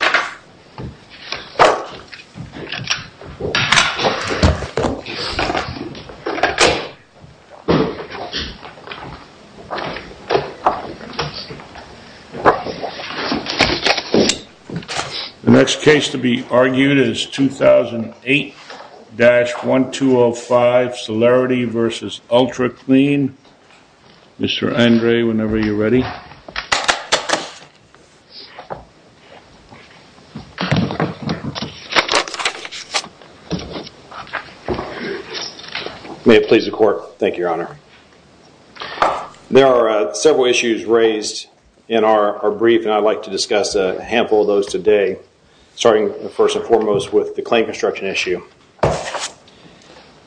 The next case to be argued is 2008-1205, Celerity v. Ultra Clean. There are several issues raised in our brief and I'd like to discuss a handful of those today starting first and foremost with the claim construction issue.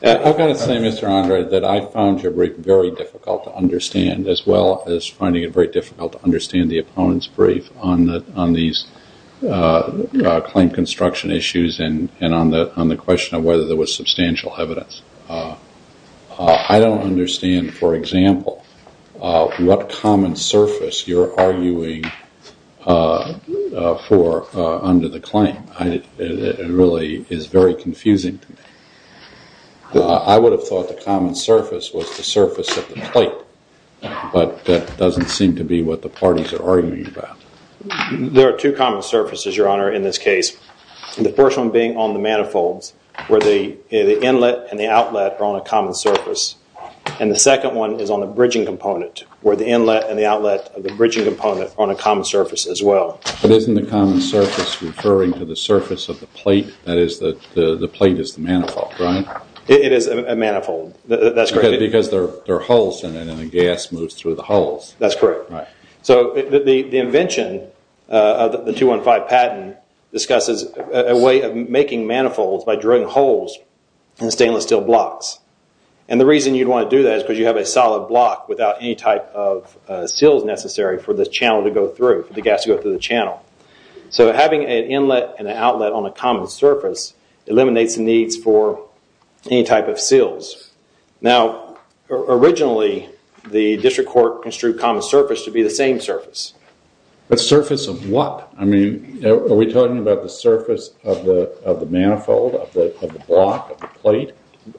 I've got to say, Mr. Andre, that I found your brief very difficult to understand as well as finding it very difficult to understand the opponent's brief on these claim construction issues and on the question of whether there was substantial evidence. I don't understand, for example, what common surface you're arguing for under the claim. It really is very confusing to me. I would have thought the common surface was the surface of the plate, but that doesn't seem to be what the parties are arguing about. There are two common surfaces, Your Honor, in this case. The first one being on the manifolds where the inlet and the outlet are on a common surface and the second one is on the bridging component where the inlet and the outlet of the bridging component are on a common surface as well. But isn't the common surface referring to the surface of the plate, that is, the plate is the manifold, right? It is a manifold, that's correct. Because there are holes in it and the gas moves through the holes. That's correct. So the invention of the 215 patent discusses a way of making manifolds by drilling holes in stainless steel blocks. And the reason you'd want to do that is because you have a solid block without any type of for the gas to go through the channel. So having an inlet and an outlet on a common surface eliminates the needs for any type of seals. Now originally the district court construed common surface to be the same surface. The surface of what? I mean, are we talking about the surface of the manifold, of the block, of the plate?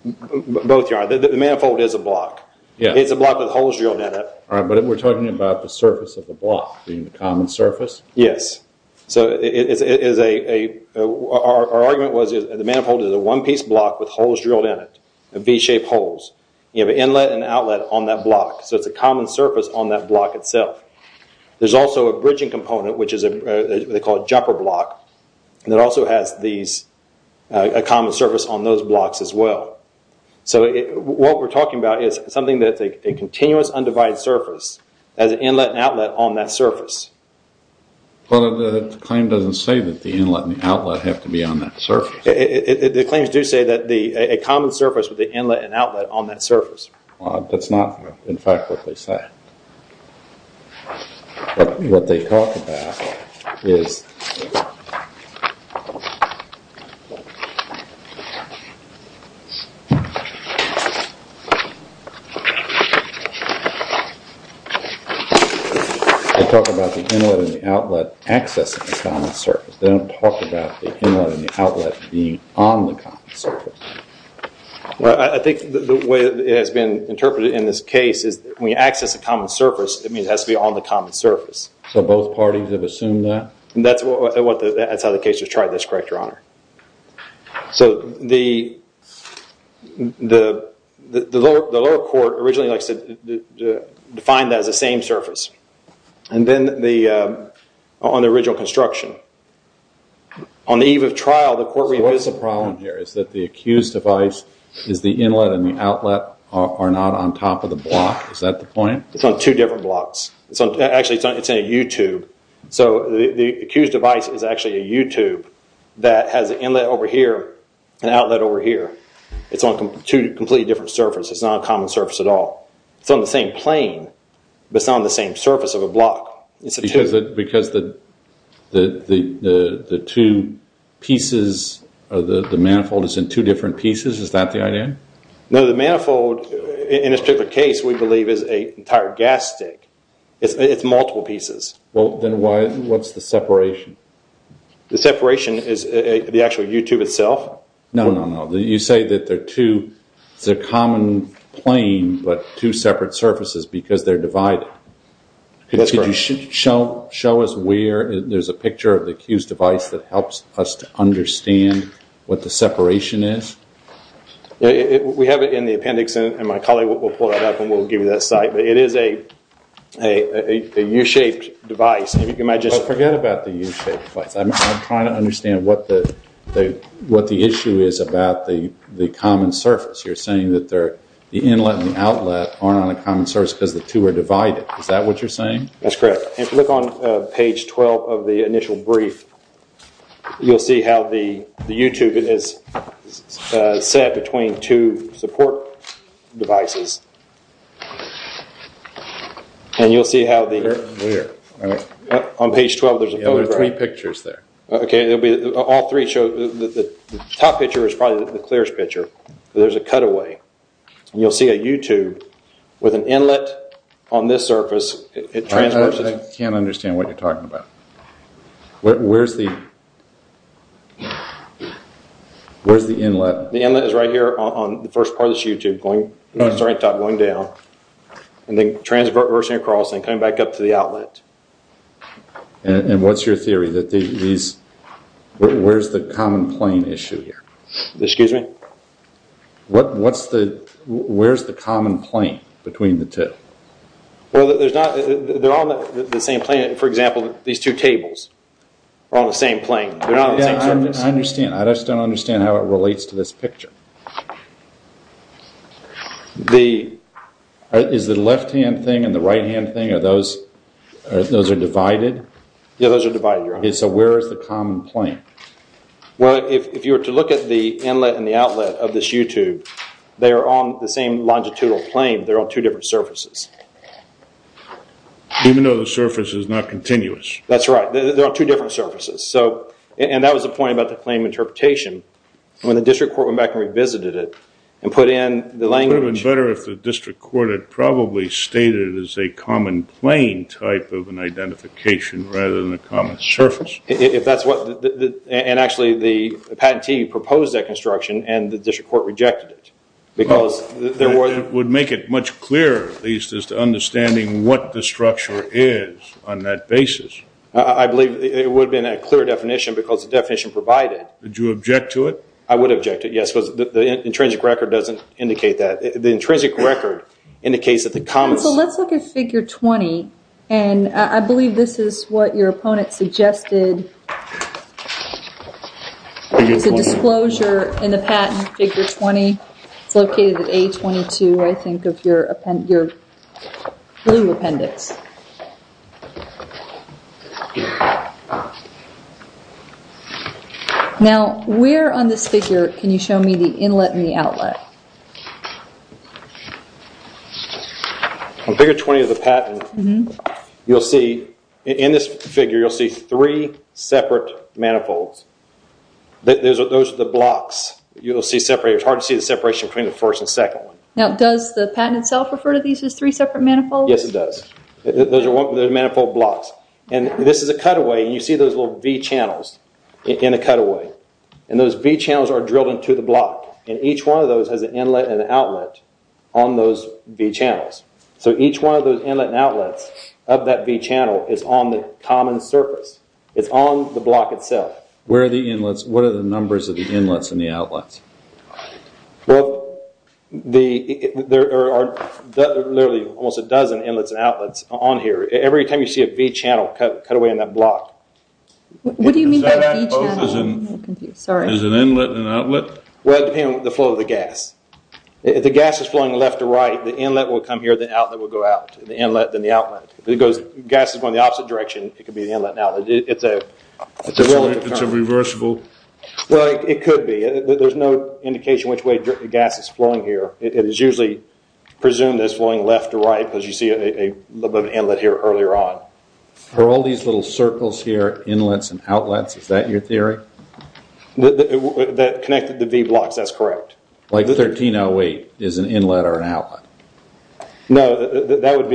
Both, Your Honor. The manifold is a block. It's a block with holes drilled in it. But we're talking about the surface of the block being the common surface? Yes. So our argument was the manifold is a one-piece block with holes drilled in it, V-shaped holes. You have an inlet and outlet on that block, so it's a common surface on that block itself. There's also a bridging component, which they call a jumper block, and it also has a common surface on those blocks as well. So what we're talking about is something that's a continuous undivided surface, has an inlet and outlet on that surface. But the claim doesn't say that the inlet and outlet have to be on that surface. The claims do say that a common surface with an inlet and outlet on that surface. That's not in fact what they say. But what they talk about is... They talk about the inlet and the outlet accessing the common surface. They don't talk about the inlet and the outlet being on the common surface. I think the way it has been interpreted in this case is when you access a common surface, it has to be on the common surface. So both parties have assumed that? That's how the case was tried, that's correct, Your Honor. So the lower court originally defined that as the same surface. And then on the original construction, on the eve of trial... So what's the problem here? Is that the accused device, is the inlet and the outlet are not on top of the block? Is that the point? It's on two different blocks. Actually it's in a U-tube. So the accused device is actually a U-tube that has an inlet over here and an outlet over here. It's on two completely different surfaces. It's not a common surface at all. It's on the same plane, but it's not on the same surface of a block. Because the two pieces of the manifold is in two different pieces, is that the idea? No, the manifold in this particular case we believe is an entire gas stick. It's multiple pieces. Well, then what's the separation? The separation is the actual U-tube itself. No, no, no. You say that they're two, it's a common plane, but two separate surfaces because they're divided. Could you show us where there's a picture of the accused device that helps us to understand what the separation is? We have it in the appendix and my colleague will pull that up and we'll give you that site. It is a U-shaped device. Forget about the U-shaped device. I'm trying to understand what the issue is about the common surface. You're saying that the inlet and the outlet aren't on a common surface because the two are divided. Is that what you're saying? That's correct. If you look on page 12 of the initial brief, you'll see how the U-tube is set between two support devices. You'll see how on page 12 there's a photograph. There are three pictures there. The top picture is probably the clearest picture. There's a cutaway. You'll see a U-tube with an inlet on this surface. I can't understand what you're talking about. Where's the inlet? The inlet is right here on the first part of this U-tube going down and then transversing across and coming back up to the outlet. What's your theory? Where's the common plane issue here? Excuse me? Where's the common plane between the two? They're on the same plane. For example, these two tables are on the same plane. They're not on the same surface. I just don't understand how it relates to this picture. Is the left-hand thing and the right-hand thing, those are divided? Yes, those are divided. Where is the common plane? If you were to look at the inlet and the outlet of this U-tube, they are on the same longitudinal plane. They're on two different surfaces. Even though the surface is not continuous. That's right. They're on two different surfaces. That was the point about the claim interpretation. When the district court went back and revisited it and put in the language... It would have been better if the district court had probably stated it as a common plane type of an identification rather than a common surface. Actually, the patentee proposed that construction and the district court rejected it. It would make it much clearer, at least, as to understanding what the structure is on that basis. I believe it would have been a clear definition because the definition provided... Would you object to it? I would object to it, yes. The intrinsic record doesn't indicate that. The intrinsic record indicates that the common... Let's look at figure 20. I believe this is what your opponent suggested. It's a disclosure in the patent figure 20. It's located at A22, I think, of your blue appendix. Now, where on this figure can you show me the inlet and the outlet? On figure 20 of the patent, in this figure, you'll see three separate manifolds. Those are the blocks. It's hard to see the separation between the first and second one. Now, does the patent itself refer to these as three separate manifolds? Yes, it does. Those are manifold blocks. This is a cutaway. You see those little V channels in the cutaway. Those V channels are drilled into the block. Each one of those has an inlet and an outlet on those V channels. Each one of those inlet and outlets of that V channel is on the common surface. It's on the block itself. What are the numbers of the inlets and the outlets? Well, there are literally almost a dozen inlets and outlets on here. Every time you see a V channel cutaway in that block. What do you mean by V channel? There's an inlet and an outlet? Well, it depends on the flow of the gas. If the gas is flowing left to right, the inlet will come here, the outlet will go out. The inlet, then the outlet. If the gas is going the opposite direction, it could be the inlet and outlet. It's a reversible. Well, it could be. There's no indication which way the gas is flowing here. It is usually presumed that it's flowing left to right because you see an inlet here earlier on. Are all these little circles here inlets and outlets? Is that your theory? That connect the V blocks, that's correct. Like 1308 is an inlet or an outlet? No, that would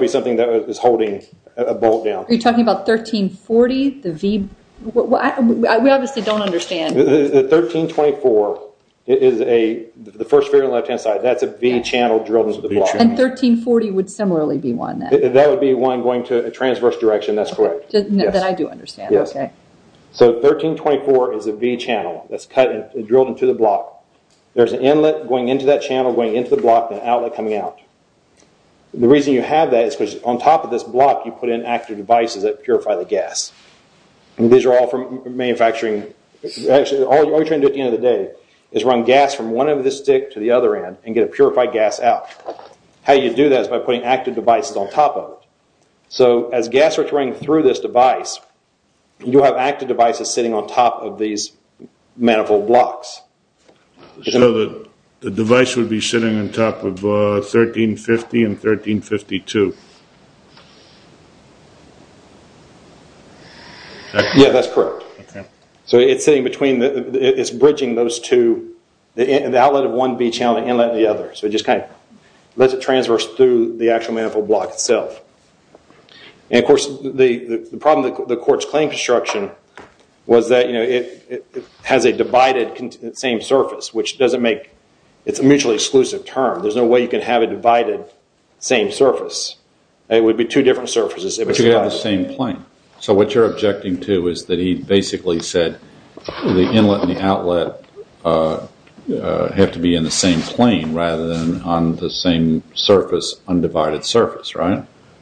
be something that is holding a bolt down. Are you talking about 1340? We obviously don't understand. 1324 is the first figure on the left-hand side. That's a V channel drilled into the block. And 1340 would similarly be one. That would be one going to a transverse direction, that's correct. Then I do understand. So 1324 is a V channel that's drilled into the block. There's an inlet going into that channel, going into the block, and an outlet coming out. The reason you have that is because on top of this block you put in active devices that purify the gas. These are all from manufacturing. All you're trying to do at the end of the day is run gas from one end of this stick to the other end and get a purified gas out. How you do that is by putting active devices on top of it. So as gas starts running through this device, you have active devices sitting on top of these manifold blocks. So the device would be sitting on top of 1350 and 1352. Yes, that's correct. So it's sitting between, it's bridging those two, the outlet of one V channel and the inlet of the other. So it just kind of lets it transverse through the actual manifold block itself. Of course, the problem with the quartz plane construction was that it has a divided same surface, which doesn't make, it's a mutually exclusive term. There's no way you can have a divided same surface. It would be two different surfaces. But you have the same plane. So what you're objecting to is that he basically said the inlet and the outlet have to be in the same plane rather than on the same surface, undivided surface.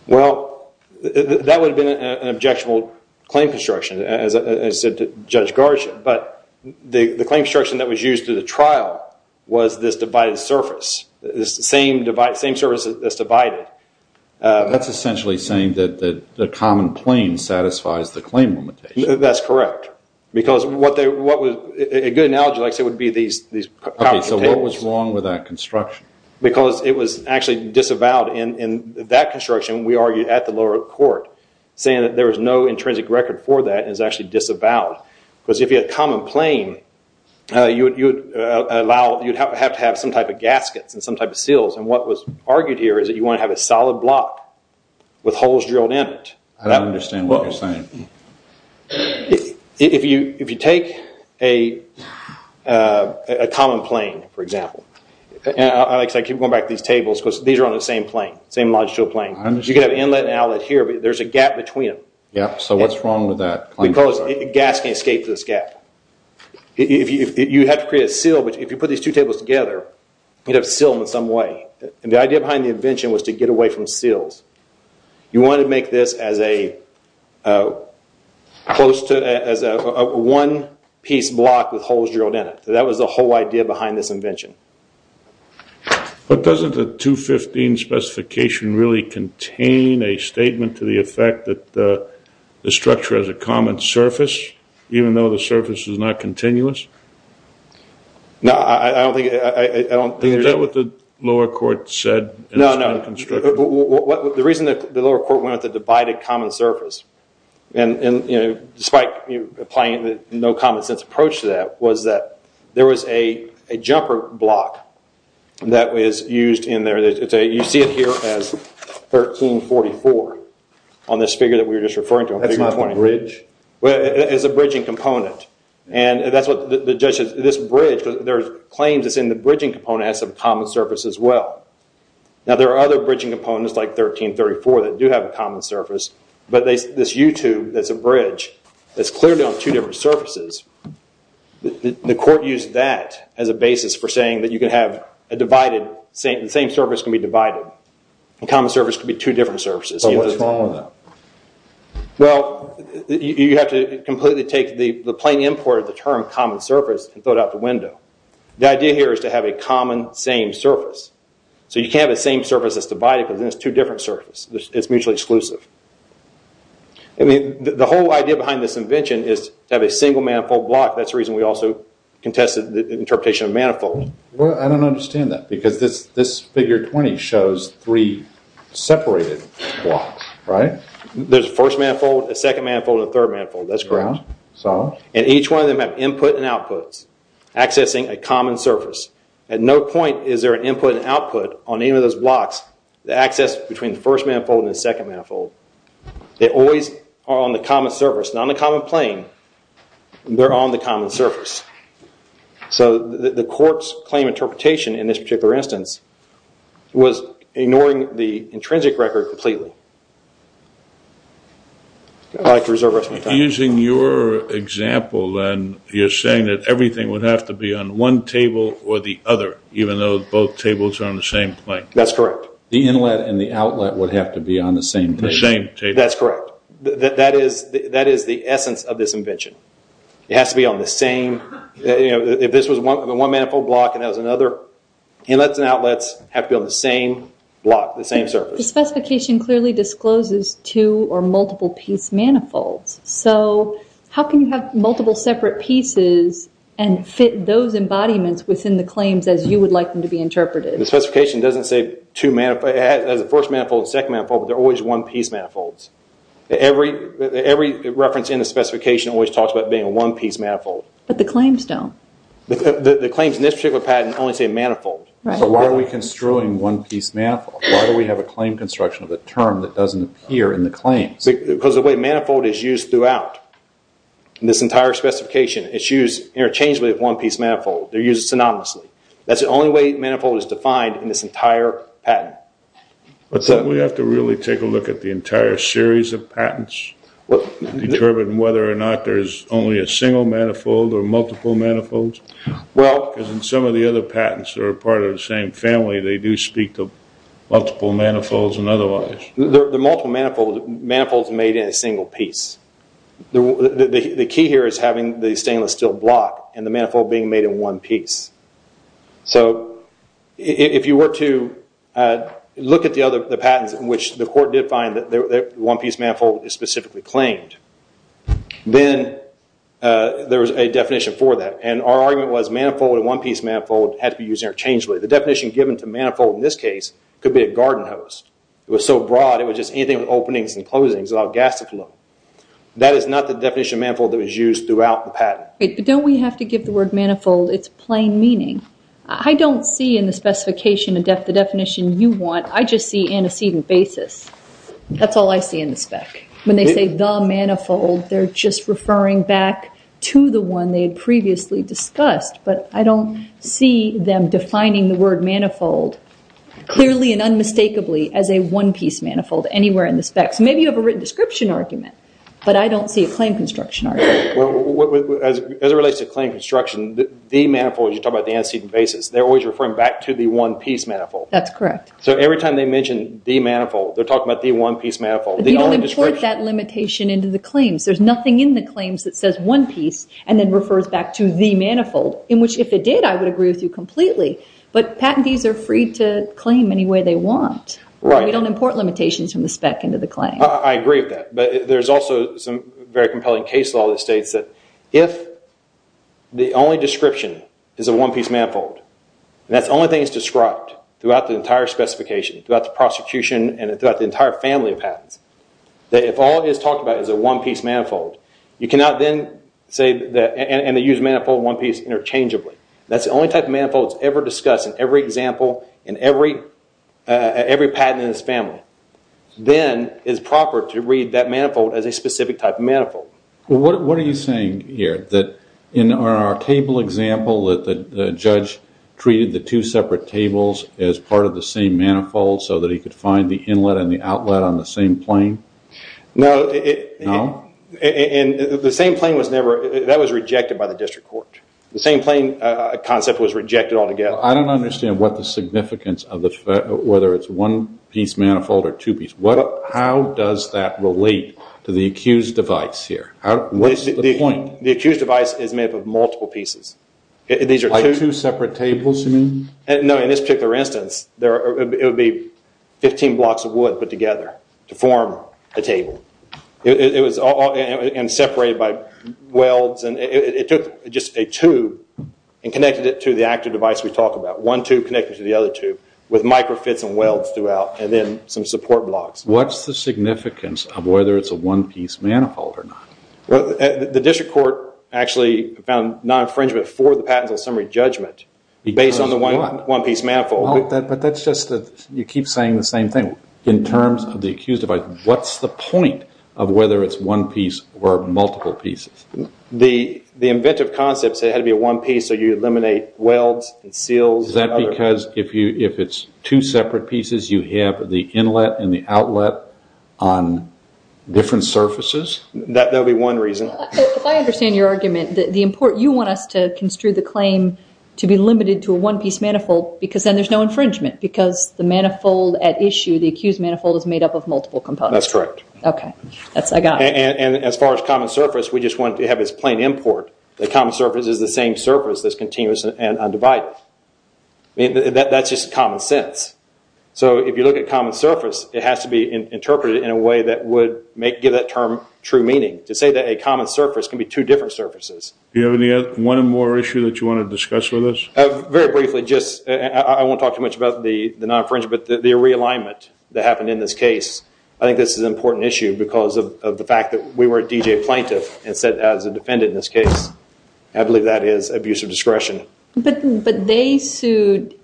Well, that would have been an objectionable claim construction, as said to Judge Garsha. But the claim construction that was used in the trial was this divided surface. The same surface that's divided. That's essentially saying that the common plane satisfies the claim limitation. That's correct. Because what they, a good analogy I would say would be these. So what was wrong with that construction? Because it was actually disavowed. In that construction, we argued at the lower court, saying that there was no intrinsic record for that and it was actually disavowed. Because if you had a common plane, you'd have to have some type of gaskets and some type of seals. And what was argued here is that you want to have a solid block with holes drilled in it. I don't understand what you're saying. If you take a common plane, for example, I keep going back to these tables because these are on the same plane, same longitudinal plane. You could have inlet and outlet here, but there's a gap between them. Yeah, so what's wrong with that? Because gas can escape this gap. You have to create a seal, but if you put these two tables together, you'd have to seal them in some way. And the idea behind the invention was to get away from seals. You wanted to make this as a one-piece block with holes drilled in it. That was the whole idea behind this invention. But doesn't the 215 specification really contain a statement to the effect that the structure has a common surface, even though the surface is not continuous? No, I don't think... Is that what the lower court said? No, no. The reason that the lower court went with the divided common surface, despite applying the no common sense approach to that, was that there was a jumper block that was used in there. You see it here as 1344 on this figure that we were just referring to. That's not a bridge? It's a bridging component. This bridge, there are claims that the bridging component has a common surface as well. Now there are other bridging components like 1334 that do have a common surface, but this U-tube that's a bridge that's clearly on two different surfaces, the court used that as a basis for saying that the same surface can be divided. A common surface can be two different surfaces. What's wrong with that? Well, you have to completely take the plain import of the term common surface and throw it out the window. The idea here is to have a common same surface. So you can't have a same surface that's divided because then it's two different surfaces. It's mutually exclusive. The whole idea behind this invention is to have a single manifold block. That's the reason we also contested the interpretation of manifold. I don't understand that because this figure 20 shows three separated blocks, right? There's a first manifold, a second manifold, and a third manifold. That's correct. Each one of them have input and outputs accessing a common surface. At no point is there an input and output on any of those blocks. The access between the first manifold and the second manifold, they always are on the common surface, not on the common plain. They're on the common surface. So the court's claim interpretation in this particular instance was ignoring the intrinsic record completely. I'd like to reserve the rest of my time. Using your example, then, you're saying that everything would have to be on one table or the other, even though both tables are on the same plain. That's correct. The inlet and the outlet would have to be on the same table. That's correct. That is the essence of this invention. It has to be on the same... If this was one manifold block and that was another, inlets and outlets have to be on the same block, the same surface. The specification clearly discloses two or multiple piece manifolds. So how can you have multiple separate pieces and fit those embodiments within the claims as you would like them to be interpreted? The specification doesn't say the first manifold and the second manifold, but they're always one piece manifolds. Every reference in the specification always talks about being a one piece manifold. But the claims don't. The claims in this particular patent only say manifold. So why are we construing one piece manifold? Why do we have a claim construction of a term that doesn't appear in the claims? Because the way manifold is used throughout this entire specification, it's used interchangeably with one piece manifold. They're used synonymously. That's the only way manifold is defined in this entire patent. So we have to really take a look at the entire series of patents and determine whether or not there's only a single manifold or multiple manifolds? Because in some of the other patents that are part of the same family, they do speak to multiple manifolds and otherwise. There are multiple manifolds made in a single piece. The key here is having the stainless steel block and the manifold being made in one piece. So if you were to look at the other patents in which the court did find that one piece manifold is specifically claimed, then there's a definition for that. And our argument was manifold and one piece manifold had to be used interchangeably. The definition given to manifold in this case could be a garden hose. It was so broad it was just anything with openings and closings, an augustic look. But don't we have to give the word manifold its plain meaning? I don't see in the specification the definition you want. I just see antecedent basis. That's all I see in the spec. When they say the manifold, they're just referring back to the one they had previously discussed. But I don't see them defining the word manifold clearly and unmistakably as a one piece manifold anywhere in the specs. Maybe you have a written description argument, but I don't see a claim construction argument. As it relates to claim construction, the manifold, you talk about the antecedent basis, they're always referring back to the one piece manifold. That's correct. So every time they mention the manifold, they're talking about the one piece manifold. But you don't import that limitation into the claims. There's nothing in the claims that says one piece and then refers back to the manifold, in which if it did, I would agree with you completely. But patentees are free to claim any way they want. We don't import limitations from the spec into the claim. I agree with that. But there's also some very compelling case law that states that if the only description is a one piece manifold, and that's the only thing that's described throughout the entire specification, throughout the prosecution, and throughout the entire family of patents, that if all it is talked about is a one piece manifold, you cannot then say, and they use manifold and one piece interchangeably. That's the only type of manifold that's ever discussed in every example, in every patent in this family. Then it's proper to read that manifold as a specific type of manifold. What are you saying here? In our table example, the judge treated the two separate tables as part of the same manifold so that he could find the inlet and the outlet on the same plane? No. No? The same plane was rejected by the district court. The same plane concept was rejected altogether. I don't understand what the significance of whether it's one piece manifold or two piece. How does that relate to the accused device here? What is the point? The accused device is made up of multiple pieces. Like two separate tables you mean? No. In this particular instance, it would be 15 blocks of wood put together to form a table. It was separated by welds. It took just a tube and connected it to the active device we talked about. One tube connected to the other tube with micro fits and welds throughout and then some support blocks. What's the significance of whether it's a one piece manifold or not? The district court actually found non-infringement for the patents on summary judgment based on the one piece manifold. That's just that you keep saying the same thing. In terms of the accused device, what's the point of whether it's one piece or multiple pieces? The inventive concept said it had to be a one piece so you eliminate welds and seals. Is that because if it's two separate pieces, you have the inlet and the outlet on different surfaces? That would be one reason. If I understand your argument, you want us to construe the claim to be limited to a one piece manifold because then there's no infringement because the manifold at issue, the accused manifold, is made up of multiple components. That's correct. As far as common surface, we just want to have this plain import. The common surface is the same surface that's continuous and undivided. That's just common sense. If you look at common surface, it has to be interpreted in a way that would give that term true meaning. To say that a common surface can be two different surfaces. Do you have one more issue that you want to discuss with us? Very briefly, I won't talk too much about the non-infringement, but the realignment that happened in this case. I think this is an important issue because of the fact that we were a DJ plaintiff instead of a defendant in this case. I believe that is abusive discretion. But they sued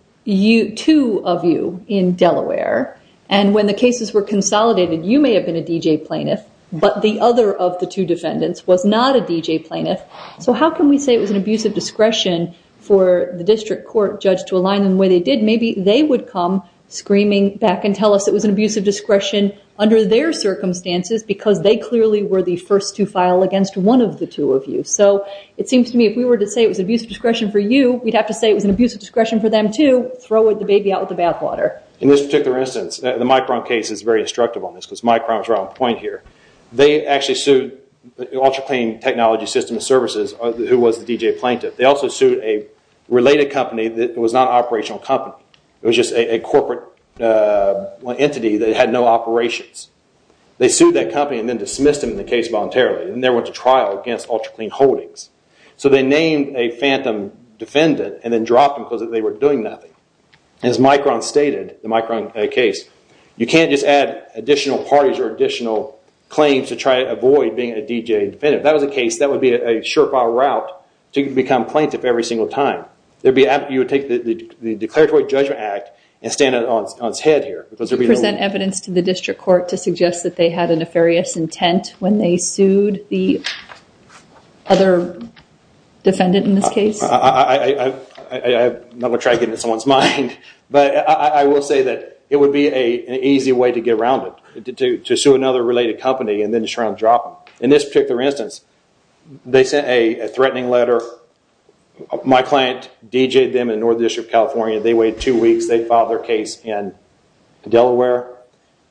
two of you in Delaware and when the cases were consolidated, you may have been a DJ plaintiff, but the other of the two defendants was not a DJ plaintiff. How can we say it was an abusive discretion for the district court judge to align them the way they did? Maybe they would come screaming back and tell us it was an abusive discretion under their circumstances because they clearly were the first to file against one of the two of you. It seems to me if we were to say it was an abusive discretion for you, we'd have to say it was an abusive discretion for them to throw the baby out with the bathwater. In this particular instance, the Micron case is very instructive on this because Micron is right on point here. They actually sued Ultra Clean Technology Systems Services who was the DJ plaintiff. They also sued a related company that was not an operational company. It was just a corporate entity that had no operations. They sued that company and then dismissed them in the case voluntarily and they went to trial against Ultra Clean Holdings. So they named a phantom defendant and then dropped them because they were doing nothing. As Micron stated, the Micron case, you can't just add additional parties or additional claims to try to avoid being a DJ defendant. If that was the case, that would be a surefire route to become plaintiff every single time. You would take the Declaratory Judgment Act and stand on its head here. Do you present evidence to the district court to suggest that they had a nefarious intent when they sued the other defendant in this case? I'm not going to try to get into someone's mind, but I will say that it would be an easy way to get around it. To sue another related company and then try to drop them. In this particular instance, they sent a threatening letter. My client DJ'd them in North District, California. They waited two weeks. They filed their case in Delaware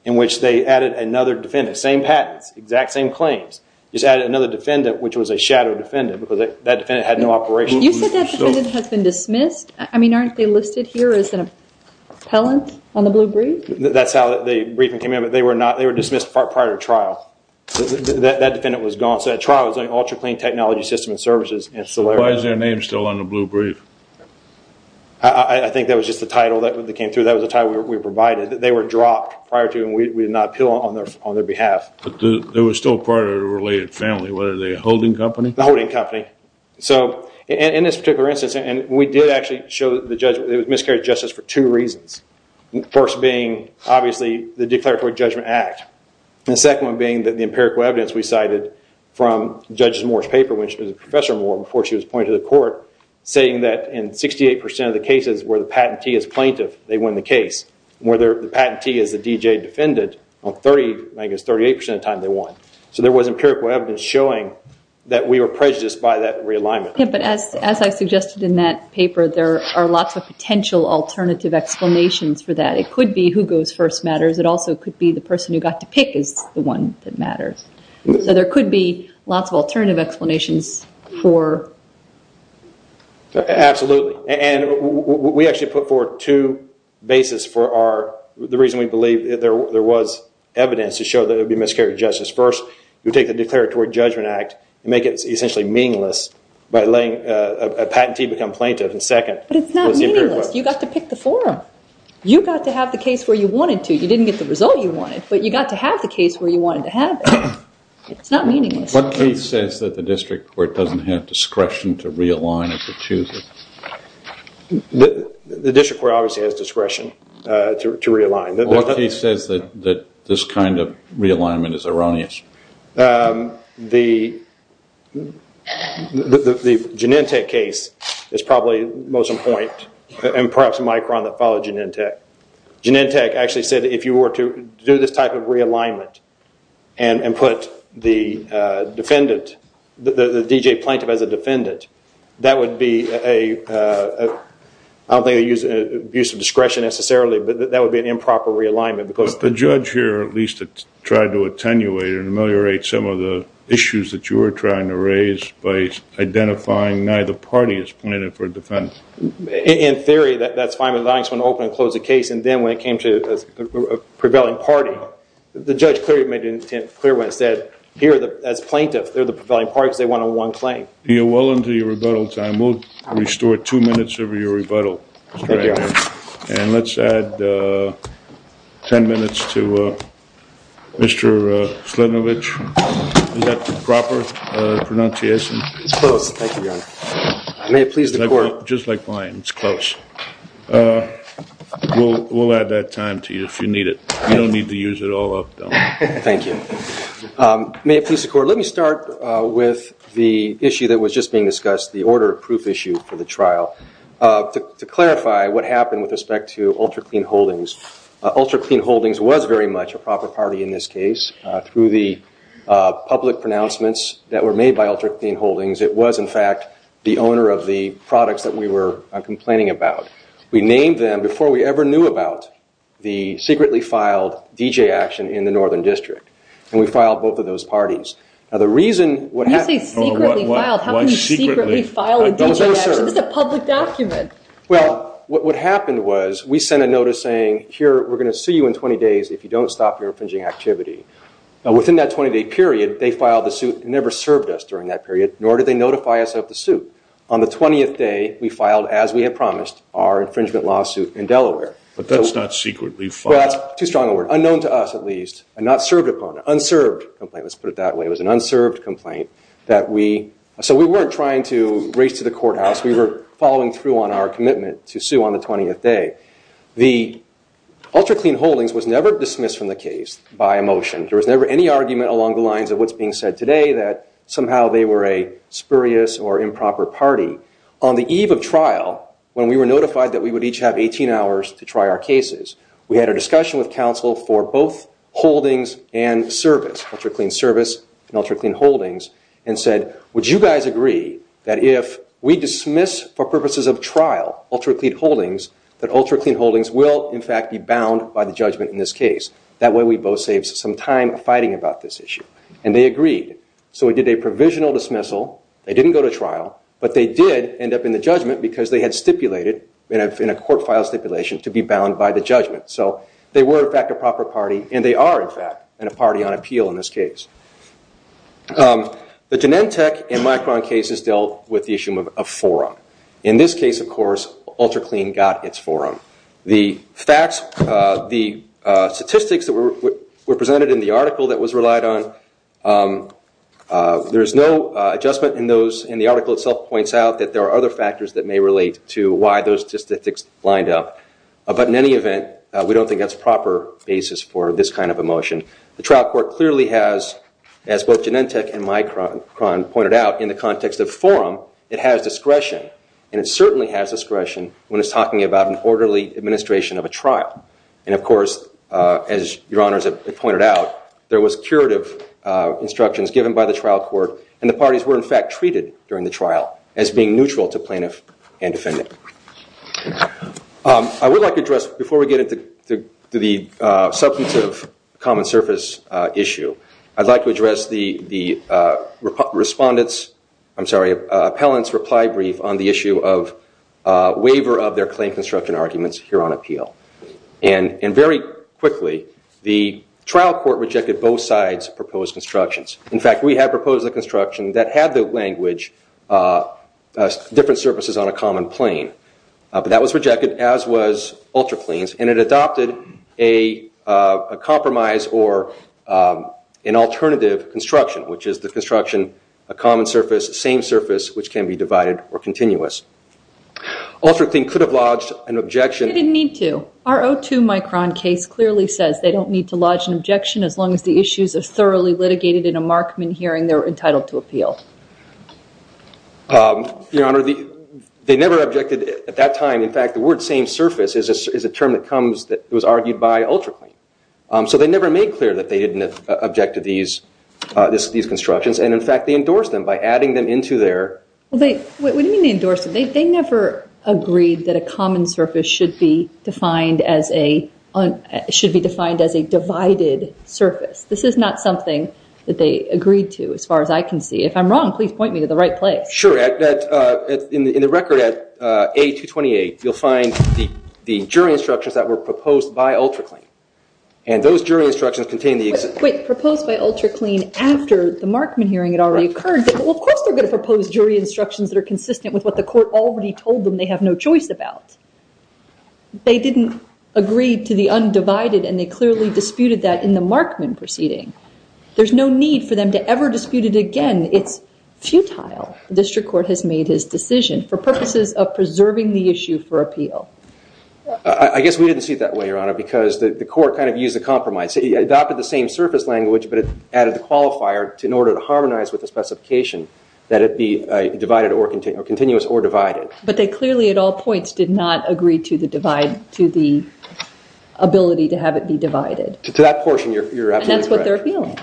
in which they added another defendant. Same patents, exact same claims. Just added another defendant which was a shadow defendant because that defendant had no operations. You said that defendant has been dismissed? I mean, aren't they listed here as an appellant on the blue brief? That's how the briefing came in, but they were dismissed prior to trial. That defendant was gone. So that trial was on Ultra Clean Technology System and Services. Why is their name still on the blue brief? I think that was just the title that came through. That was the title we provided. They were dropped prior to and we did not appeal on their behalf. They were still part of a related family. What are they, a holding company? A holding company. In this particular instance, we did actually show the miscarriage of justice for two reasons. The first being, obviously, the Declaratory Judgment Act. The second one being that the empirical evidence we cited from Judge Moore's paper, which was Professor Moore before she was appointed to the court, saying that in 68% of the cases where the patentee is plaintiff, they won the case. Where the patentee is the DJ defendant, I guess 38% of the time they won. So there was empirical evidence showing that we were prejudiced by that realignment. But as I suggested in that paper, there are lots of potential alternative explanations for that. It could be who goes first matters. It also could be the person who got to pick is the one that matters. So there could be lots of alternative explanations for... Absolutely. We actually put forward two bases for the reason we believe there was evidence to show that there would be miscarriage of justice. First, you take the Declaratory Judgment Act and make it essentially meaningless by letting a patentee become plaintiff. And second... But it's not meaningless. You got to pick the forum. You got to have the case where you wanted to. You didn't get the result you wanted, but you got to have the case where you wanted to have it. It's not meaningless. What case says that the district court doesn't have discretion to realign if it chooses? The district court obviously has discretion to realign. What case says that this kind of realignment is erroneous? The Genentech case is probably most important and perhaps Micron that followed Genentech. Genentech actually said if you were to do this type of realignment and put the defendant, the D.J. plaintiff as a defendant, that would be a... The judge here at least tried to attenuate and ameliorate some of the issues that you were trying to raise by identifying neither party as plaintiff or defendant. In theory, that's fine. The line is open and close the case. And then when it came to a prevailing party, the judge clearly made it clear what it said. Here, as plaintiff, they're the prevailing parties. They want a one claim. You're well into your rebuttal time. We'll restore two minutes of your rebuttal. And let's add ten minutes to Mr. Slidinovich. Is that the proper pronunciation? It's close. Thank you, Your Honor. May it please the court. Just like mine, it's close. We'll add that time to you if you need it. You don't need to use it all up, though. Thank you. May it please the court. Let me start with the issue that was just being discussed, the order of proof issue for the trial. To clarify what happened with respect to Ultra Clean Holdings, Ultra Clean Holdings was very much a proper party in this case. Through the public pronouncements that were made by Ultra Clean Holdings, it was, in fact, the owner of the products that we were complaining about. We named them before we ever knew about the secretly filed DJ action in the Northern District. And we filed both of those parties. Now, the reason what happened... When you say secretly filed, how can you secretly file a DJ action? It's a public document. Well, what happened was we sent a notice saying, here, we're going to see you in 20 days if you don't stop your infringing activity. Now, within that 20-day period, they filed the suit and never served us during that period, nor did they notify us of the suit. On the 20th day, we filed, as we had promised, our infringement lawsuit in Delaware. But that's not secretly filed. Well, that's too strong a word. Unknown to us, at least, and not served upon. Unserved complaint, let's put it that way. It was an unserved complaint that we... We were following through on our commitment to sue on the 20th day. The Ultra Clean Holdings was never dismissed from the case by a motion. There was never any argument along the lines of what's being said today, that somehow they were a spurious or improper party. On the eve of trial, when we were notified that we would each have 18 hours to try our cases, we had a discussion with counsel for both holdings and service, Ultra Clean Service and Ultra Clean Holdings, and said, would you guys agree that if we dismiss for purposes of trial Ultra Clean Holdings, that Ultra Clean Holdings will, in fact, be bound by the judgment in this case? That way we both save some time fighting about this issue. And they agreed. So we did a provisional dismissal. They didn't go to trial, but they did end up in the judgment because they had stipulated in a court file stipulation to be bound by the judgment. So they were, in fact, a proper party, and they are, in fact, a party on appeal in this case. The Genentech and Micron cases dealt with the issue of forum. In this case, of course, Ultra Clean got its forum. The statistics that were presented in the article that was relied on, there is no adjustment in those, and the article itself points out that there are other factors that may relate to why those statistics lined up. But in any event, we don't think that's a proper basis for this kind of a motion. The trial court clearly has, as both Genentech and Micron pointed out, in the context of forum, it has discretion, and it certainly has discretion when it's talking about an orderly administration of a trial. And, of course, as Your Honors have pointed out, there was curative instructions given by the trial court, and the parties were, in fact, treated during the trial as being neutral to plaintiff and defendant. I would like to address, before we get into the substantive common surface issue, I'd like to address the respondent's, I'm sorry, appellant's reply brief on the issue of waiver of their claim construction arguments here on appeal. And very quickly, the trial court rejected both sides' proposed constructions. In fact, we had proposed a construction that had the language, different surfaces on a common plane. But that was rejected, as was UltraClean's, and it adopted a compromise or an alternative construction, which is the construction, a common surface, same surface, which can be divided or continuous. UltraClean could have lodged an objection. They didn't need to. Our 02 Micron case clearly says they don't need to lodge an objection, as long as the issues are thoroughly litigated in a Markman hearing, they're entitled to appeal. Your Honor, they never objected at that time. In fact, the word same surface is a term that was argued by UltraClean. So they never made clear that they didn't object to these constructions. And, in fact, they endorsed them by adding them into their- What do you mean they endorsed them? They never agreed that a common surface should be defined as a divided surface. This is not something that they agreed to, as far as I can see. If I'm wrong, please point me to the right place. Sure. In the record at A228, you'll find the jury instructions that were proposed by UltraClean. And those jury instructions contain the- Wait, proposed by UltraClean after the Markman hearing had already occurred? Well, of course they're going to propose jury instructions that are consistent with what the court already told them they have no choice about. They didn't agree to the undivided, and they clearly disputed that in the Markman proceeding. There's no need for them to ever dispute it again. It's futile. The district court has made his decision for purposes of preserving the issue for appeal. I guess we didn't see it that way, Your Honor, because the court kind of used a compromise. It adopted the same surface language, but it added the qualifier in order to harmonize with the specification that it be divided or continuous or divided. But they clearly, at all points, did not agree to the ability to have it be divided. To that portion, you're absolutely correct. And that's what they're appealing.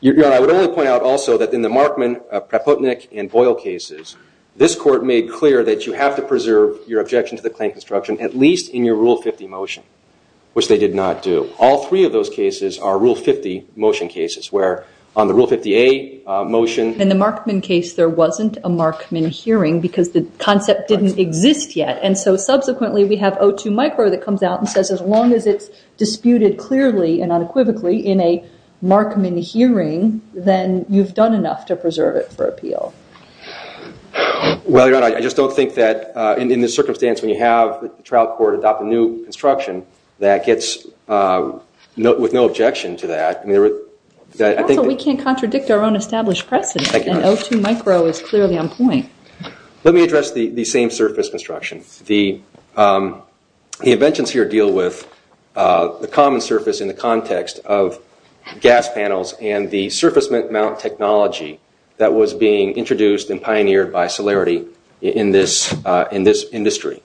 Your Honor, I would only point out also that in the Markman, Praputnik, and Boyle cases, this court made clear that you have to preserve your objection to the claim construction, at least in your Rule 50 motion, which they did not do. All three of those cases are Rule 50 motion cases, where on the Rule 50A motion- In the Markman case, there wasn't a Markman hearing because the concept didn't exist yet. And so subsequently, we have O2 micro that comes out and says, as long as it's disputed clearly and unequivocally in a Markman hearing, then you've done enough to preserve it for appeal. Well, Your Honor, I just don't think that in this circumstance, when you have the trial court adopt a new construction, that gets with no objection to that. Also, we can't contradict our own established presence, and O2 micro is clearly on point. Let me address the same surface construction. The inventions here deal with the common surface in the context of gas panels and the surface mount technology that was being introduced and pioneered by Solarity in this industry.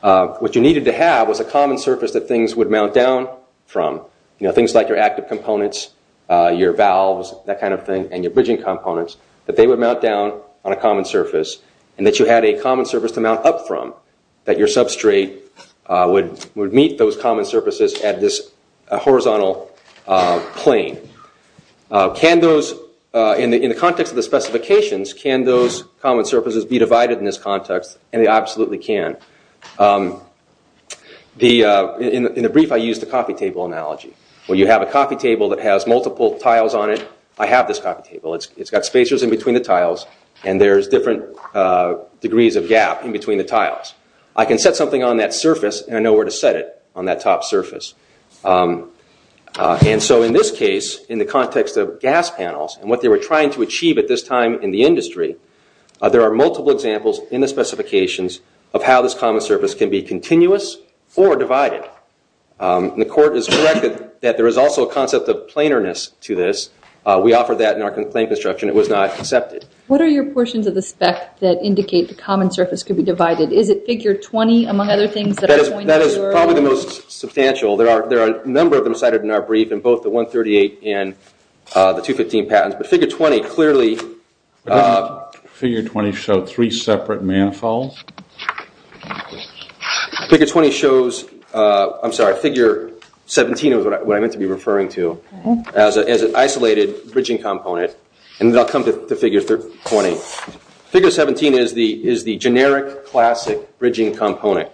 What you needed to have was a common surface that things would mount down from. Things like your active components, your valves, that kind of thing, and your bridging components, that they would mount down on a common surface, and that you had a common surface to mount up from, that your substrate would meet those common surfaces at this horizontal plane. In the context of the specifications, can those common surfaces be divided in this context? And they absolutely can. In the brief, I used the coffee table analogy, where you have a coffee table that has multiple tiles on it. I have this coffee table. It's got spacers in between the tiles, and there's different degrees of gap in between the tiles. I can set something on that surface, and I know where to set it on that top surface. In this case, in the context of gas panels and what they were trying to achieve at this time in the industry, there are multiple examples in the specifications of how this common surface can be continuous or divided. The court has corrected that there is also a concept of planarness to this. We offer that in our claim construction. It was not accepted. What are your portions of the spec that indicate the common surface could be divided? Is it Figure 20, among other things, that I pointed to earlier? That is probably the most substantial. There are a number of them cited in our brief, in both the 138 and the 215 patents. But Figure 20 clearly – But doesn't Figure 20 show three separate manifolds? Figure 20 shows – I'm sorry, Figure 17 is what I meant to be referring to. As an isolated bridging component. And then I'll come to Figure 20. Figure 17 is the generic classic bridging component,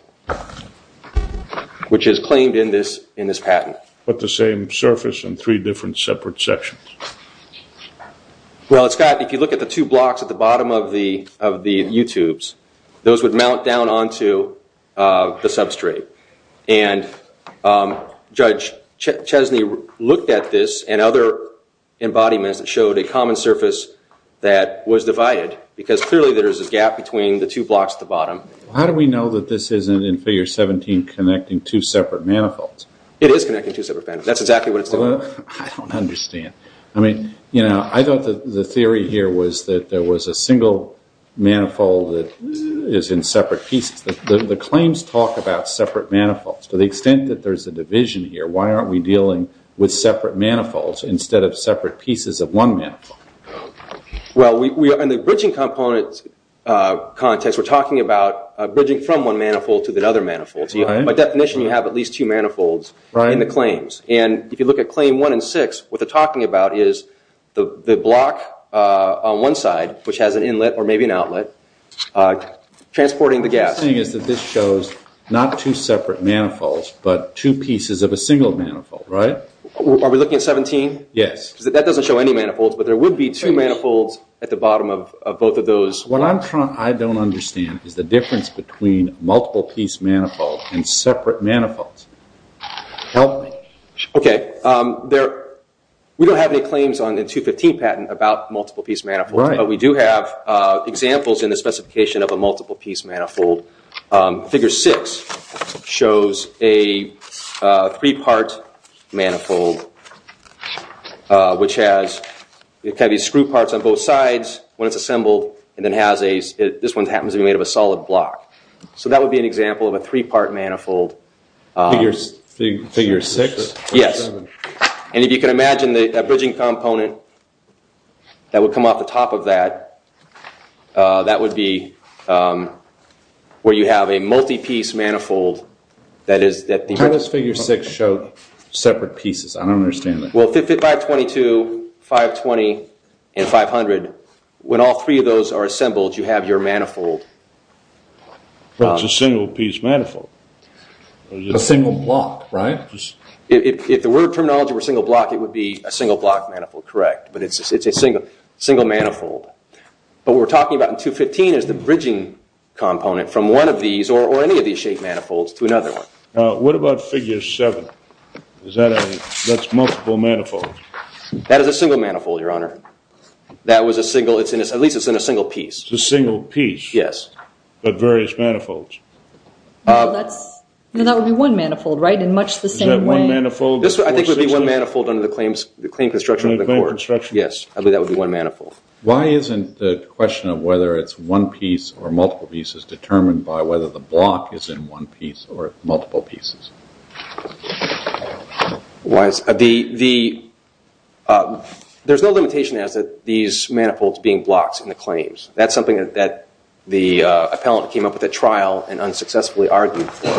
which is claimed in this patent. But the same surface in three different separate sections. Well, it's got – if you look at the two blocks at the bottom of the U-tubes, those would mount down onto the substrate. And Judge Chesney looked at this and other embodiments that showed a common surface that was divided. Because clearly there is a gap between the two blocks at the bottom. How do we know that this isn't, in Figure 17, connecting two separate manifolds? It is connecting two separate manifolds. That's exactly what it's doing. I don't understand. I mean, you know, I thought the theory here was that there was a single manifold that is in separate pieces. The claims talk about separate manifolds. To the extent that there's a division here, why aren't we dealing with separate manifolds instead of separate pieces of one manifold? Well, in the bridging component context, we're talking about bridging from one manifold to the other manifold. By definition, you have at least two manifolds in the claims. And if you look at Claim 1 and 6, what they're talking about is the block on one side, which has an inlet or maybe an outlet, transporting the gas. What I'm saying is that this shows not two separate manifolds, but two pieces of a single manifold, right? Are we looking at 17? Yes. That doesn't show any manifolds, but there would be two manifolds at the bottom of both of those. What I don't understand is the difference between multiple-piece manifolds and separate manifolds. Help me. Okay. We don't have any claims on the 215 patent about multiple-piece manifolds, but we do have examples in the specification of a multiple-piece manifold. Figure 6 shows a three-part manifold, which has screw parts on both sides when it's assembled, and this one happens to be made of a solid block. So that would be an example of a three-part manifold. Figure 6? Yes. If you can imagine the bridging component that would come off the top of that, that would be where you have a multi-piece manifold. How does Figure 6 show separate pieces? I don't understand that. Well, 522, 520, and 500, when all three of those are assembled, you have your manifold. It's a single-piece manifold. A single block, right? If the word terminology were single block, it would be a single-block manifold, correct, but it's a single manifold. What we're talking about in 215 is the bridging component from one of these or any of these shaped manifolds to another one. What about Figure 7? That's multiple manifolds. That is a single manifold, Your Honor. At least it's in a single piece. It's a single piece. Yes. But various manifolds. That would be one manifold, right, in much the same way? Is that one manifold? I think it would be one manifold under the Claim Construction of the Court. Yes, I believe that would be one manifold. Why isn't the question of whether it's one piece or multiple pieces determined by whether the block is in one piece or multiple pieces? There's no limitation as to these manifolds being blocks in the claims. That's something that the appellant came up with at trial and unsuccessfully argued for.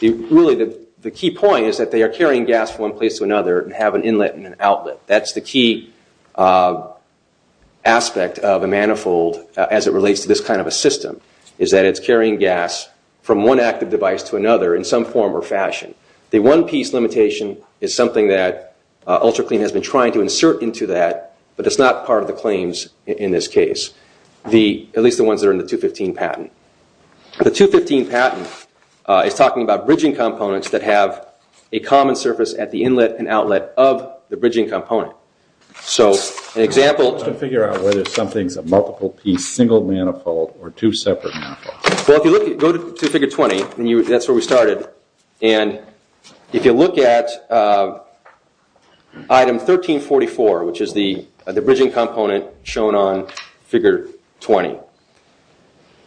Really, the key point is that they are carrying gas from one place to another and have an inlet and an outlet. That's the key aspect of a manifold as it relates to this kind of a system, is that it's carrying gas from one active device to another in some form or fashion. The one-piece limitation is something that UltraClean has been trying to insert into that, but it's not part of the claims in this case, at least the ones that are in the 215 patent. The 215 patent is talking about bridging components that have a common surface at the inlet and outlet of the bridging component. So an example- I'm trying to figure out whether something's a multiple-piece single manifold or two separate manifolds. Well, if you go to Figure 20, that's where we started, and if you look at Item 1344, which is the bridging component shown on Figure 20,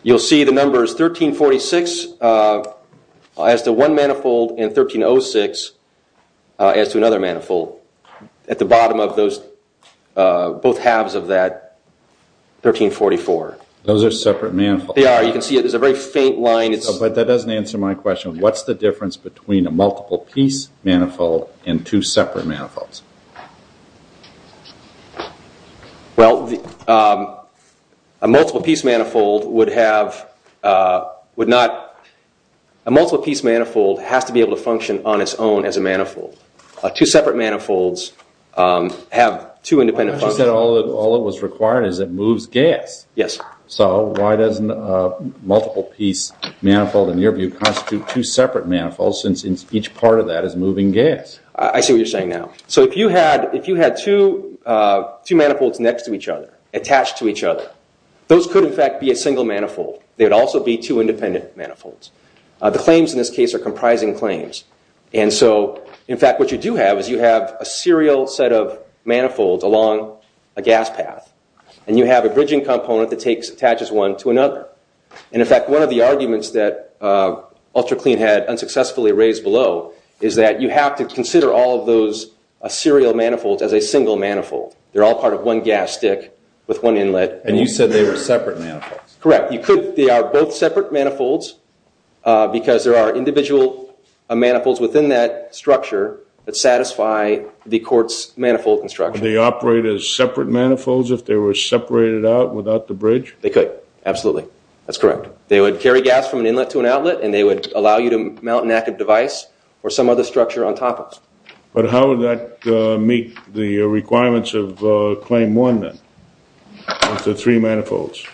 you'll see the numbers 1346 as to one manifold and 1306 as to another manifold at the bottom of both halves of that 1344. Those are separate manifolds. They are. You can see there's a very faint line. But that doesn't answer my question. What's the difference between a multiple-piece manifold and two separate manifolds? Well, a multiple-piece manifold has to be able to function on its own as a manifold. Two separate manifolds have two independent functions. But you said all that was required is it moves gas. Yes. So why does a multiple-piece manifold, in your view, constitute two separate manifolds since each part of that is moving gas? I see what you're saying now. So if you had two manifolds next to each other, attached to each other, those could, in fact, be a single manifold. They would also be two independent manifolds. The claims in this case are comprising claims. And so, in fact, what you do have is you have a serial set of manifolds along a gas path, and you have a bridging component that attaches one to another. And, in fact, one of the arguments that UltraClean had unsuccessfully raised below is that you have to consider all of those serial manifolds as a single manifold. They're all part of one gas stick with one inlet. And you said they were separate manifolds. Correct. They are both separate manifolds because there are individual manifolds within that structure that satisfy the court's manifold construction. Would they operate as separate manifolds if they were separated out without the bridge? They could. Absolutely. That's correct. They would carry gas from an inlet to an outlet, and they would allow you to mount an active device or some other structure on top of it. But how would that meet the requirements of Claim 1, then, of the three manifolds?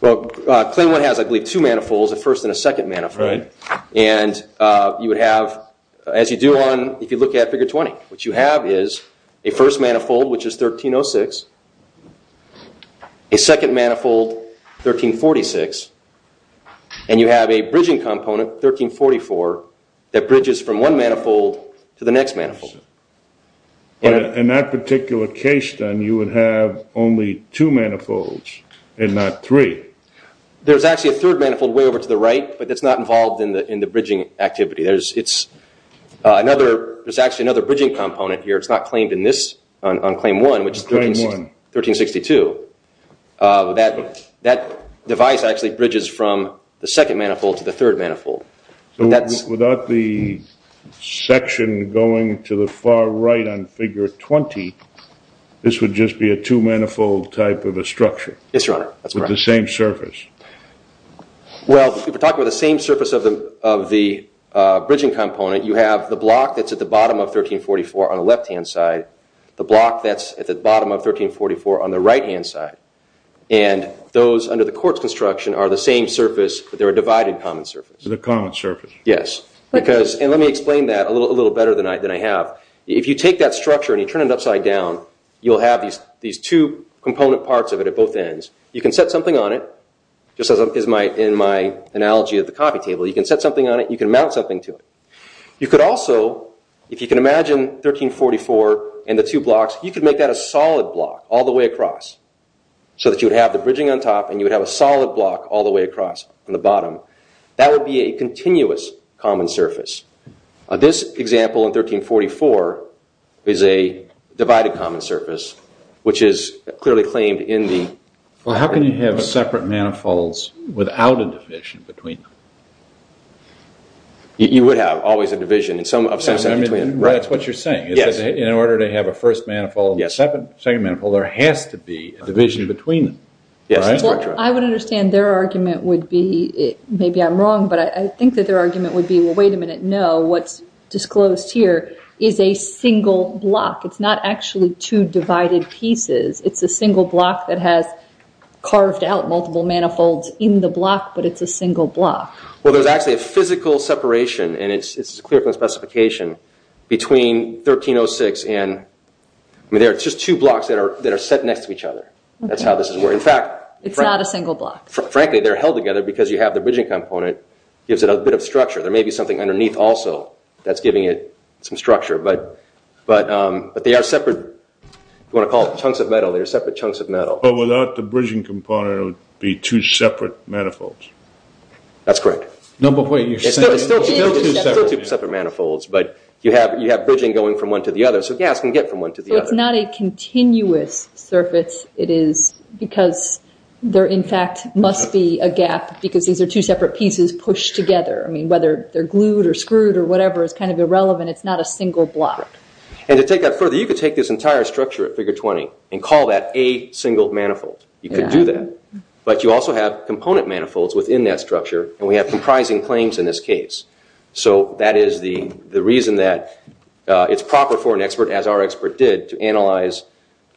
Well, Claim 1 has, I believe, two manifolds, a first and a second manifold. Right. And you would have, as you do on, if you look at Figure 20, what you have is a first manifold, which is 1306, a second manifold, 1346, and you have a bridging component, 1344, that bridges from one manifold to the next manifold. In that particular case, then, you would have only two manifolds and not three. There's actually a third manifold way over to the right, but that's not involved in the bridging activity. There's actually another bridging component here. It's not claimed on Claim 1, which is 1362. That device actually bridges from the second manifold to the third manifold. So without the section going to the far right on Figure 20, this would just be a two-manifold type of a structure? Yes, Your Honor. That's correct. With the same surface? Well, if we're talking about the same surface of the bridging component, you have the block that's at the bottom of 1344 on the left-hand side, the block that's at the bottom of 1344 on the right-hand side, and those under the court's construction are the same surface, but they're a divided common surface. They're a common surface. Yes. And let me explain that a little better than I have. If you take that structure and you turn it upside down, you'll have these two component parts of it at both ends. You can set something on it, just as in my analogy of the coffee table. You can set something on it and you can mount something to it. You could also, if you can imagine 1344 and the two blocks, you could make that a solid block all the way across so that you would have the bridging on top and you would have a solid block all the way across from the bottom. That would be a continuous common surface. This example in 1344 is a divided common surface, which is clearly claimed in the- Well, how can you have separate manifolds without a division between them? You would have always a division of some sort between them, right? That's what you're saying. Yes. In order to have a first manifold and a second manifold, there has to be a division between them, right? Well, I would understand their argument would be, maybe I'm wrong, but I think that their argument would be, well, wait a minute, no. What's disclosed here is a single block. It's not actually two divided pieces. It's a single block that has carved out multiple manifolds in the block, but it's a single block. Well, there's actually a physical separation, and it's clear from the specification, between 1306 and- I mean, there are just two blocks that are set next to each other. That's how this is. In fact- It's not a single block. Frankly, they're held together because you have the bridging component gives it a bit of structure. There may be something underneath also that's giving it some structure, but they are separate. If you want to call it chunks of metal, they're separate chunks of metal. But without the bridging component, it would be two separate manifolds. That's correct. No, but wait, you're saying- It's still two separate manifolds, but you have bridging going from one to the other, so gas can get from one to the other. So it's not a continuous surface. It is because there, in fact, must be a gap because these are two separate pieces pushed together. I mean, whether they're glued or screwed or whatever is kind of irrelevant. It's not a single block. To take that further, you could take this entire structure at Figure 20 and call that a single manifold. You could do that. But you also have component manifolds within that structure, and we have comprising claims in this case. So that is the reason that it's proper for an expert, as our expert did, to analyze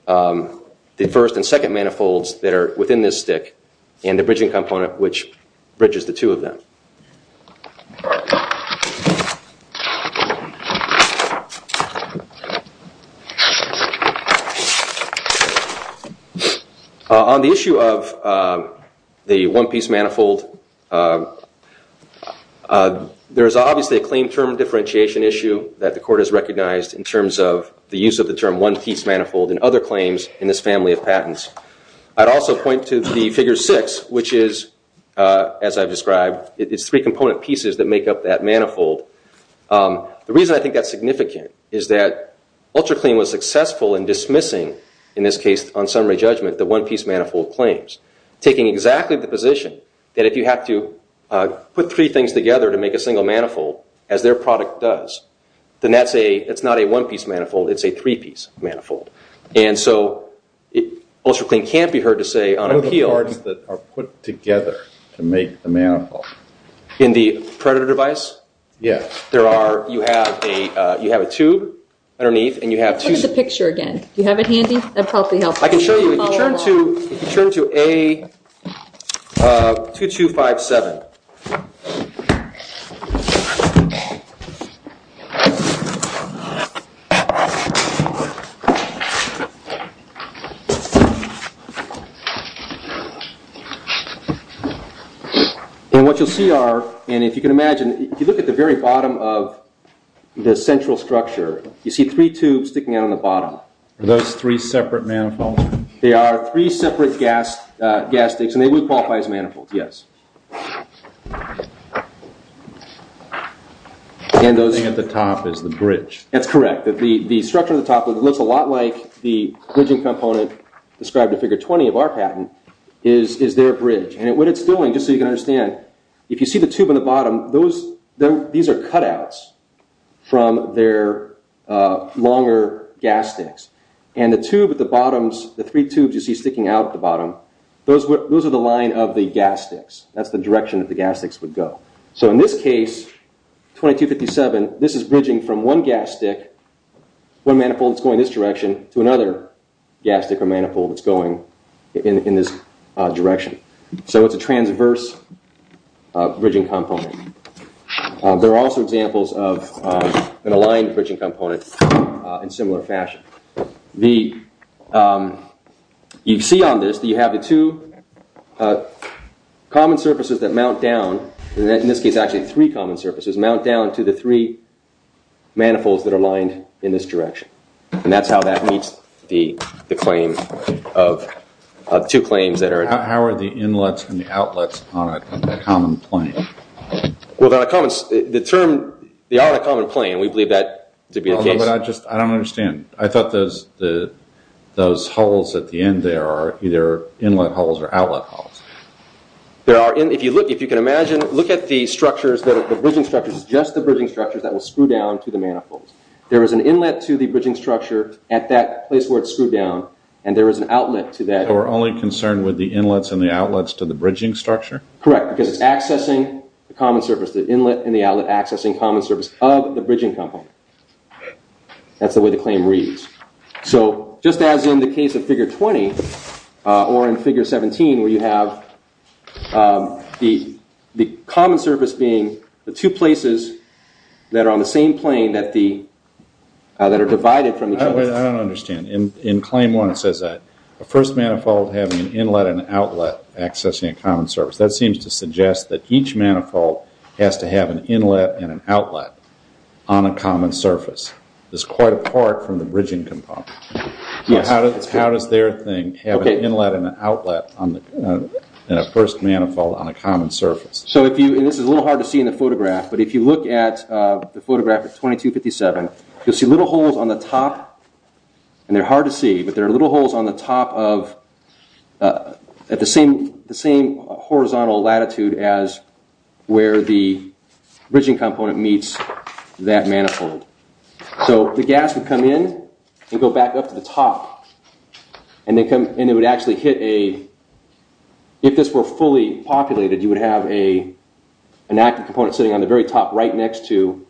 the first and second manifolds that are within this stick and the bridging component, which bridges the two of them. On the issue of the one-piece manifold, there is obviously a claim term differentiation issue that the Court has recognized in terms of the use of the term one-piece manifold and other claims in this family of patents. I'd also point to the Figure 6, which is, as I've described, it's three component pieces that make up that manifold. The reason I think that's significant is that UltraClean was successful in dismissing, in this case, on summary judgment, the one-piece manifold claims, taking exactly the position that if you have to put three things together to make a single manifold, as their product does, then it's not a one-piece manifold, it's a three-piece manifold. And so UltraClean can't be heard to say on appeal... What are the parts that are put together to make the manifold? In the Predator device? Yes. You have a tube underneath and you have two... Take the picture again. Do you have it handy? That'd probably help. I can show you. If you turn to A2257... And what you'll see are, and if you can imagine, if you look at the very bottom of the central structure, you see three tubes sticking out on the bottom. Are those three separate manifolds? They are three separate gas sticks, and they would qualify as manifolds, yes. And those... The thing at the top is the bridge. That's correct. The structure at the top looks a lot like the bridging component described in Figure 20 of our patent, is their bridge. And what it's doing, just so you can understand, if you see the tube on the bottom, these are cutouts from their longer gas sticks. And the tube at the bottom, the three tubes you see sticking out at the bottom, those are the line of the gas sticks. That's the direction that the gas sticks would go. So in this case, A2257, this is bridging from one gas stick, one manifold that's going this direction, to another gas stick or manifold that's going in this direction. So it's a transverse bridging component. There are also examples of an aligned bridging component in similar fashion. You see on this that you have the two common surfaces that mount down, in this case actually three common surfaces, mount down to the three manifolds that are lined in this direction. And that's how that meets the claim of two claims that are... How are the inlets and the outlets on a common plane? Well, the term, they are on a common plane. We believe that to be the case. I don't understand. I thought those holes at the end there are either inlet holes or outlet holes. If you can imagine, look at the structures, the bridging structures, just the bridging structures that will screw down to the manifolds. There is an inlet to the bridging structure at that place where it's screwed down, and there is an outlet to that. So we're only concerned with the inlets and the outlets to the bridging structure? Correct, because it's accessing the common surface, the inlet and the outlet accessing common surface of the bridging component. That's the way the claim reads. So just as in the case of Figure 20, or in Figure 17, where you have the common surface being the two places that are on the same plane that are divided from each other. I don't understand. In Claim 1 it says that the first manifold having an inlet and an outlet accessing a common surface. That seems to suggest that each manifold has to have an inlet and an outlet on a common surface. It's quite apart from the bridging component. How does their thing have an inlet and an outlet in a first manifold on a common surface? This is a little hard to see in the photograph, but if you look at the photograph at 2257, you'll see little holes on the top, and they're hard to see, but there are little holes on the top at the same horizontal latitude as where the bridging component meets that manifold. So the gas would come in and go back up to the top, and it would actually hit a... If this were fully populated, you would have an active component sitting on the very top right next to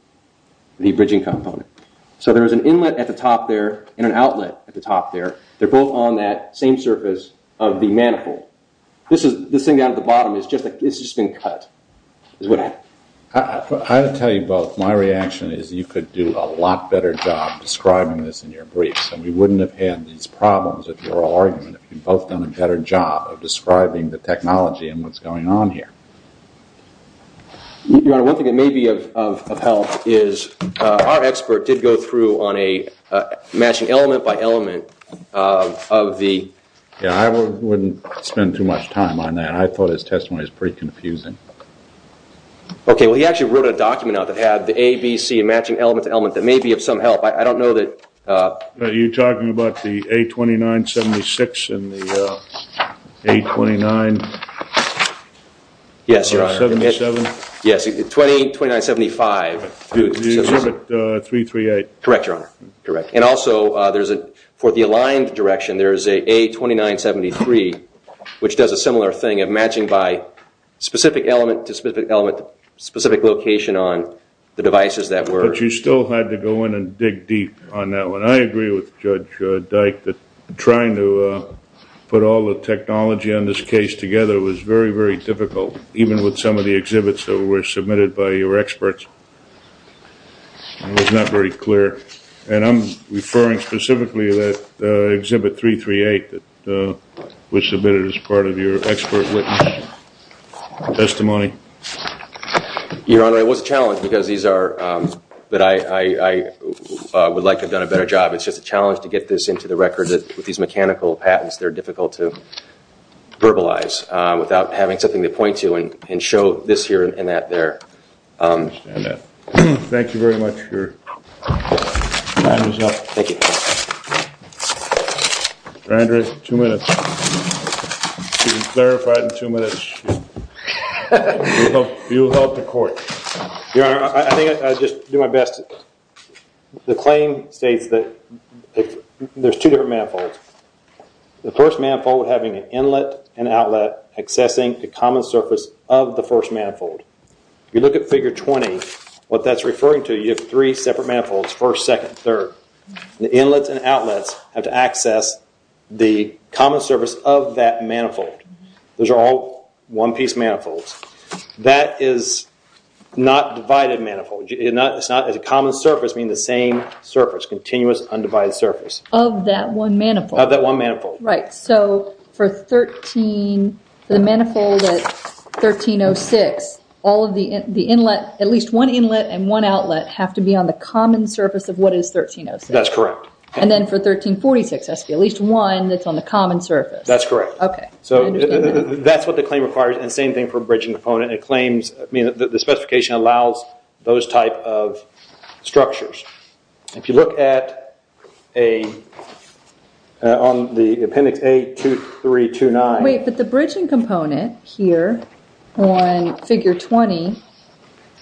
the bridging component. So there is an inlet at the top there and an outlet at the top there. They're both on that same surface of the manifold. This thing down at the bottom has just been cut. I'll tell you both. My reaction is you could do a lot better job describing this in your briefs, and we wouldn't have had these problems if you were all arguing, if you'd both done a better job of describing the technology and what's going on here. Your Honor, one thing that may be of help is our expert did go through on a matching element by element of the... Yeah, I wouldn't spend too much time on that. I thought his testimony was pretty confusing. Okay, well, he actually wrote a document out that had the A, B, C and matching element to element that may be of some help. I don't know that... Are you talking about the A2976 and the A29... Yes, Your Honor. ...77? Yes, A282975. The exhibit 338. Correct, Your Honor. Correct. And also, for the aligned direction, there is an A2973, which does a similar thing of matching by specific element to specific element, specific location on the devices that were... But you still had to go in and dig deep on that one. I agree with Judge Dyke that trying to put all the technology on this case together was very, very difficult, even with some of the exhibits that were submitted by your experts. It was not very clear. And I'm referring specifically to that exhibit 338 that was submitted as part of your expert witness testimony. Your Honor, it was a challenge because these are... But I would like to have done a better job. It's just a challenge to get this into the record that with these mechanical patents, they're difficult to verbalize without having something to point to and show this here and that there. I understand that. Thank you very much. Your time is up. Thank you. Your Honor, I think I'll just do my best. The claim states that there's two different manifolds. The first manifold having an inlet and outlet accessing the common surface of the first manifold. If you look at Figure 20, what that's referring to, you have three separate manifolds, first, second, third. you have three separate manifolds, first, second, third. Inlets and outlets have to access the common surface of that manifold. Those are all one-piece manifolds. That is not divided manifold. It's not a common surface, meaning the same surface, continuous undivided surface. Of that one manifold. Of that one manifold. Right. So for the manifold at 1306, all of the inlet, at least one inlet and one outlet, have to be on the common surface of what is 1306. That's correct. And then for 1346, there has to be at least one that's on the common surface. That's correct. Okay. That's what the claim requires, and the same thing for a bridging component. The specification allows those type of structures. If you look at the appendix A2329... Wait, but the bridging component here on Figure 20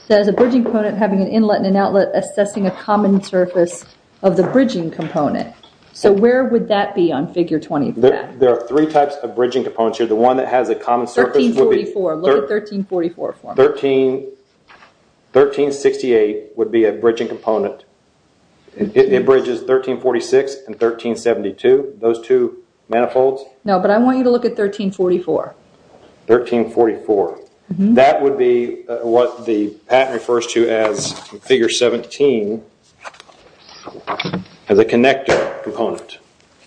says a bridging component having an inlet and an outlet assessing a common surface of the bridging component. So where would that be on Figure 20? There are three types of bridging components here. The one that has a common surface... 1344. Look at 1344 for me. 1368 would be a bridging component. It bridges 1346 and 1372, those two manifolds. No, but I want you to look at 1344. 1344. That would be what the patent refers to as Figure 17 as a connector component.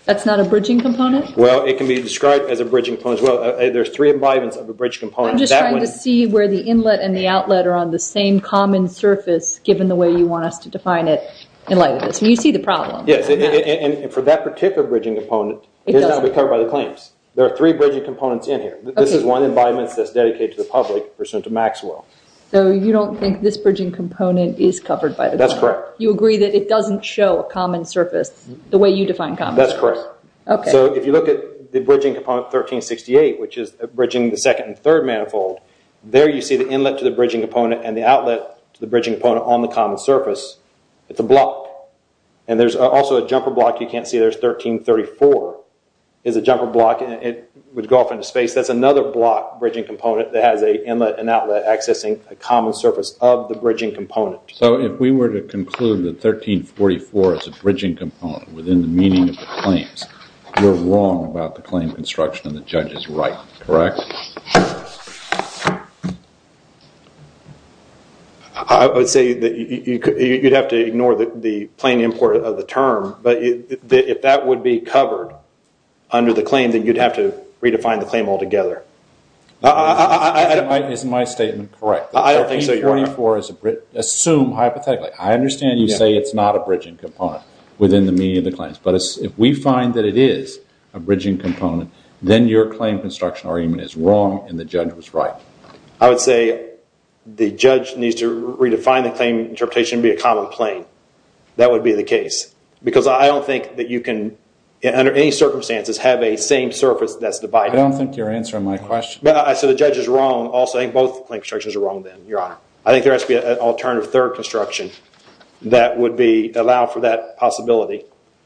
That's not a bridging component? Well, it can be described as a bridging component as well. There's three embodiments of a bridge component. I'm just trying to see where the inlet and the outlet are on the same common surface given the way you want us to define it in light of this. You see the problem. Yes, and for that particular bridging component, it does not be covered by the claims. There are three bridging components in here. This is one embodiment that's dedicated to the public pursuant to Maxwell. So you don't think this bridging component is covered by the claim? That's correct. You agree that it doesn't show a common surface the way you define common surface? That's correct. Okay. So if you look at the bridging component 1368, which is bridging the second and third manifold, there you see the inlet to the bridging component and the outlet to the bridging component on the common surface. It's a block, and there's also a jumper block you can't see. There's 1334. It's a jumper block, and it would go off into space. That's another block bridging component that has an inlet and outlet accessing a common surface of the bridging component. So if we were to conclude that 1344 is a bridging component within the meaning of the claims, you're wrong about the claim construction, and the judge is right, correct? I would say that you'd have to ignore the plain import of the term, but if that would be covered under the claim, then you'd have to redefine the claim altogether. Isn't my statement correct? I don't think so, Your Honor. 1344 is assumed hypothetically. I understand you say it's not a bridging component within the meaning of the claims, but if we find that it is a bridging component, then your claim construction argument is wrong and the judge was right. I would say the judge needs to redefine the claim interpretation and be a common plain. That would be the case because I don't think that you can, under any circumstances, have a same surface that's divided. I don't think you're answering my question. So the judge is wrong also. I think both claim constructions are wrong then, Your Honor. I think there has to be an alternative third construction that would allow for that possibility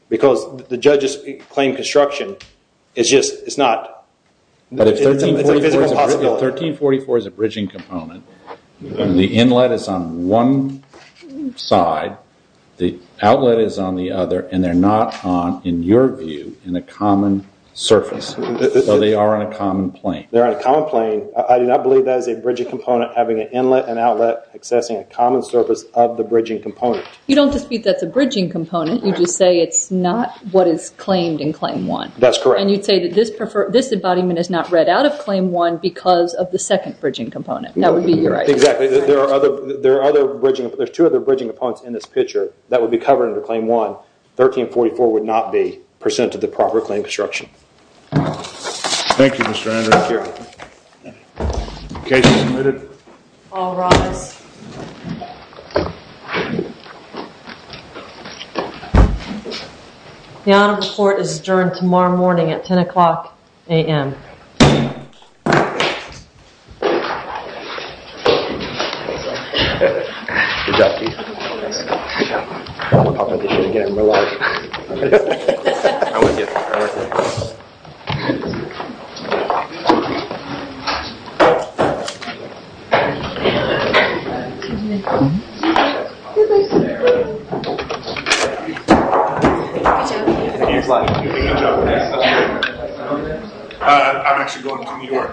because the judge's claim construction is just not a physical possibility. But if 1344 is a bridging component, the inlet is on one side, the outlet is on the other, and they're not on, in your view, in a common surface. So they are on a common plain. They're on a common plain. I do not believe that is a bridging component having an inlet and outlet accessing a common surface of the bridging component. You don't dispute that's a bridging component. You just say it's not what is claimed in Claim 1. That's correct. And you'd say that this embodiment is not read out of Claim 1 because of the second bridging component. That would be your argument. Exactly. There are two other bridging components in this picture that would be covered under Claim 1. 1344 would not be percent of the proper claim construction. Thank you, Mr. Andrews. Thank you. The case is submitted. All rise. The honor report is adjourned tomorrow morning at 10 o'clock a.m. Good job, Keith. I don't want competition again in my life. I'm with you. I'm with you. I'm actually going to New York. Thank you.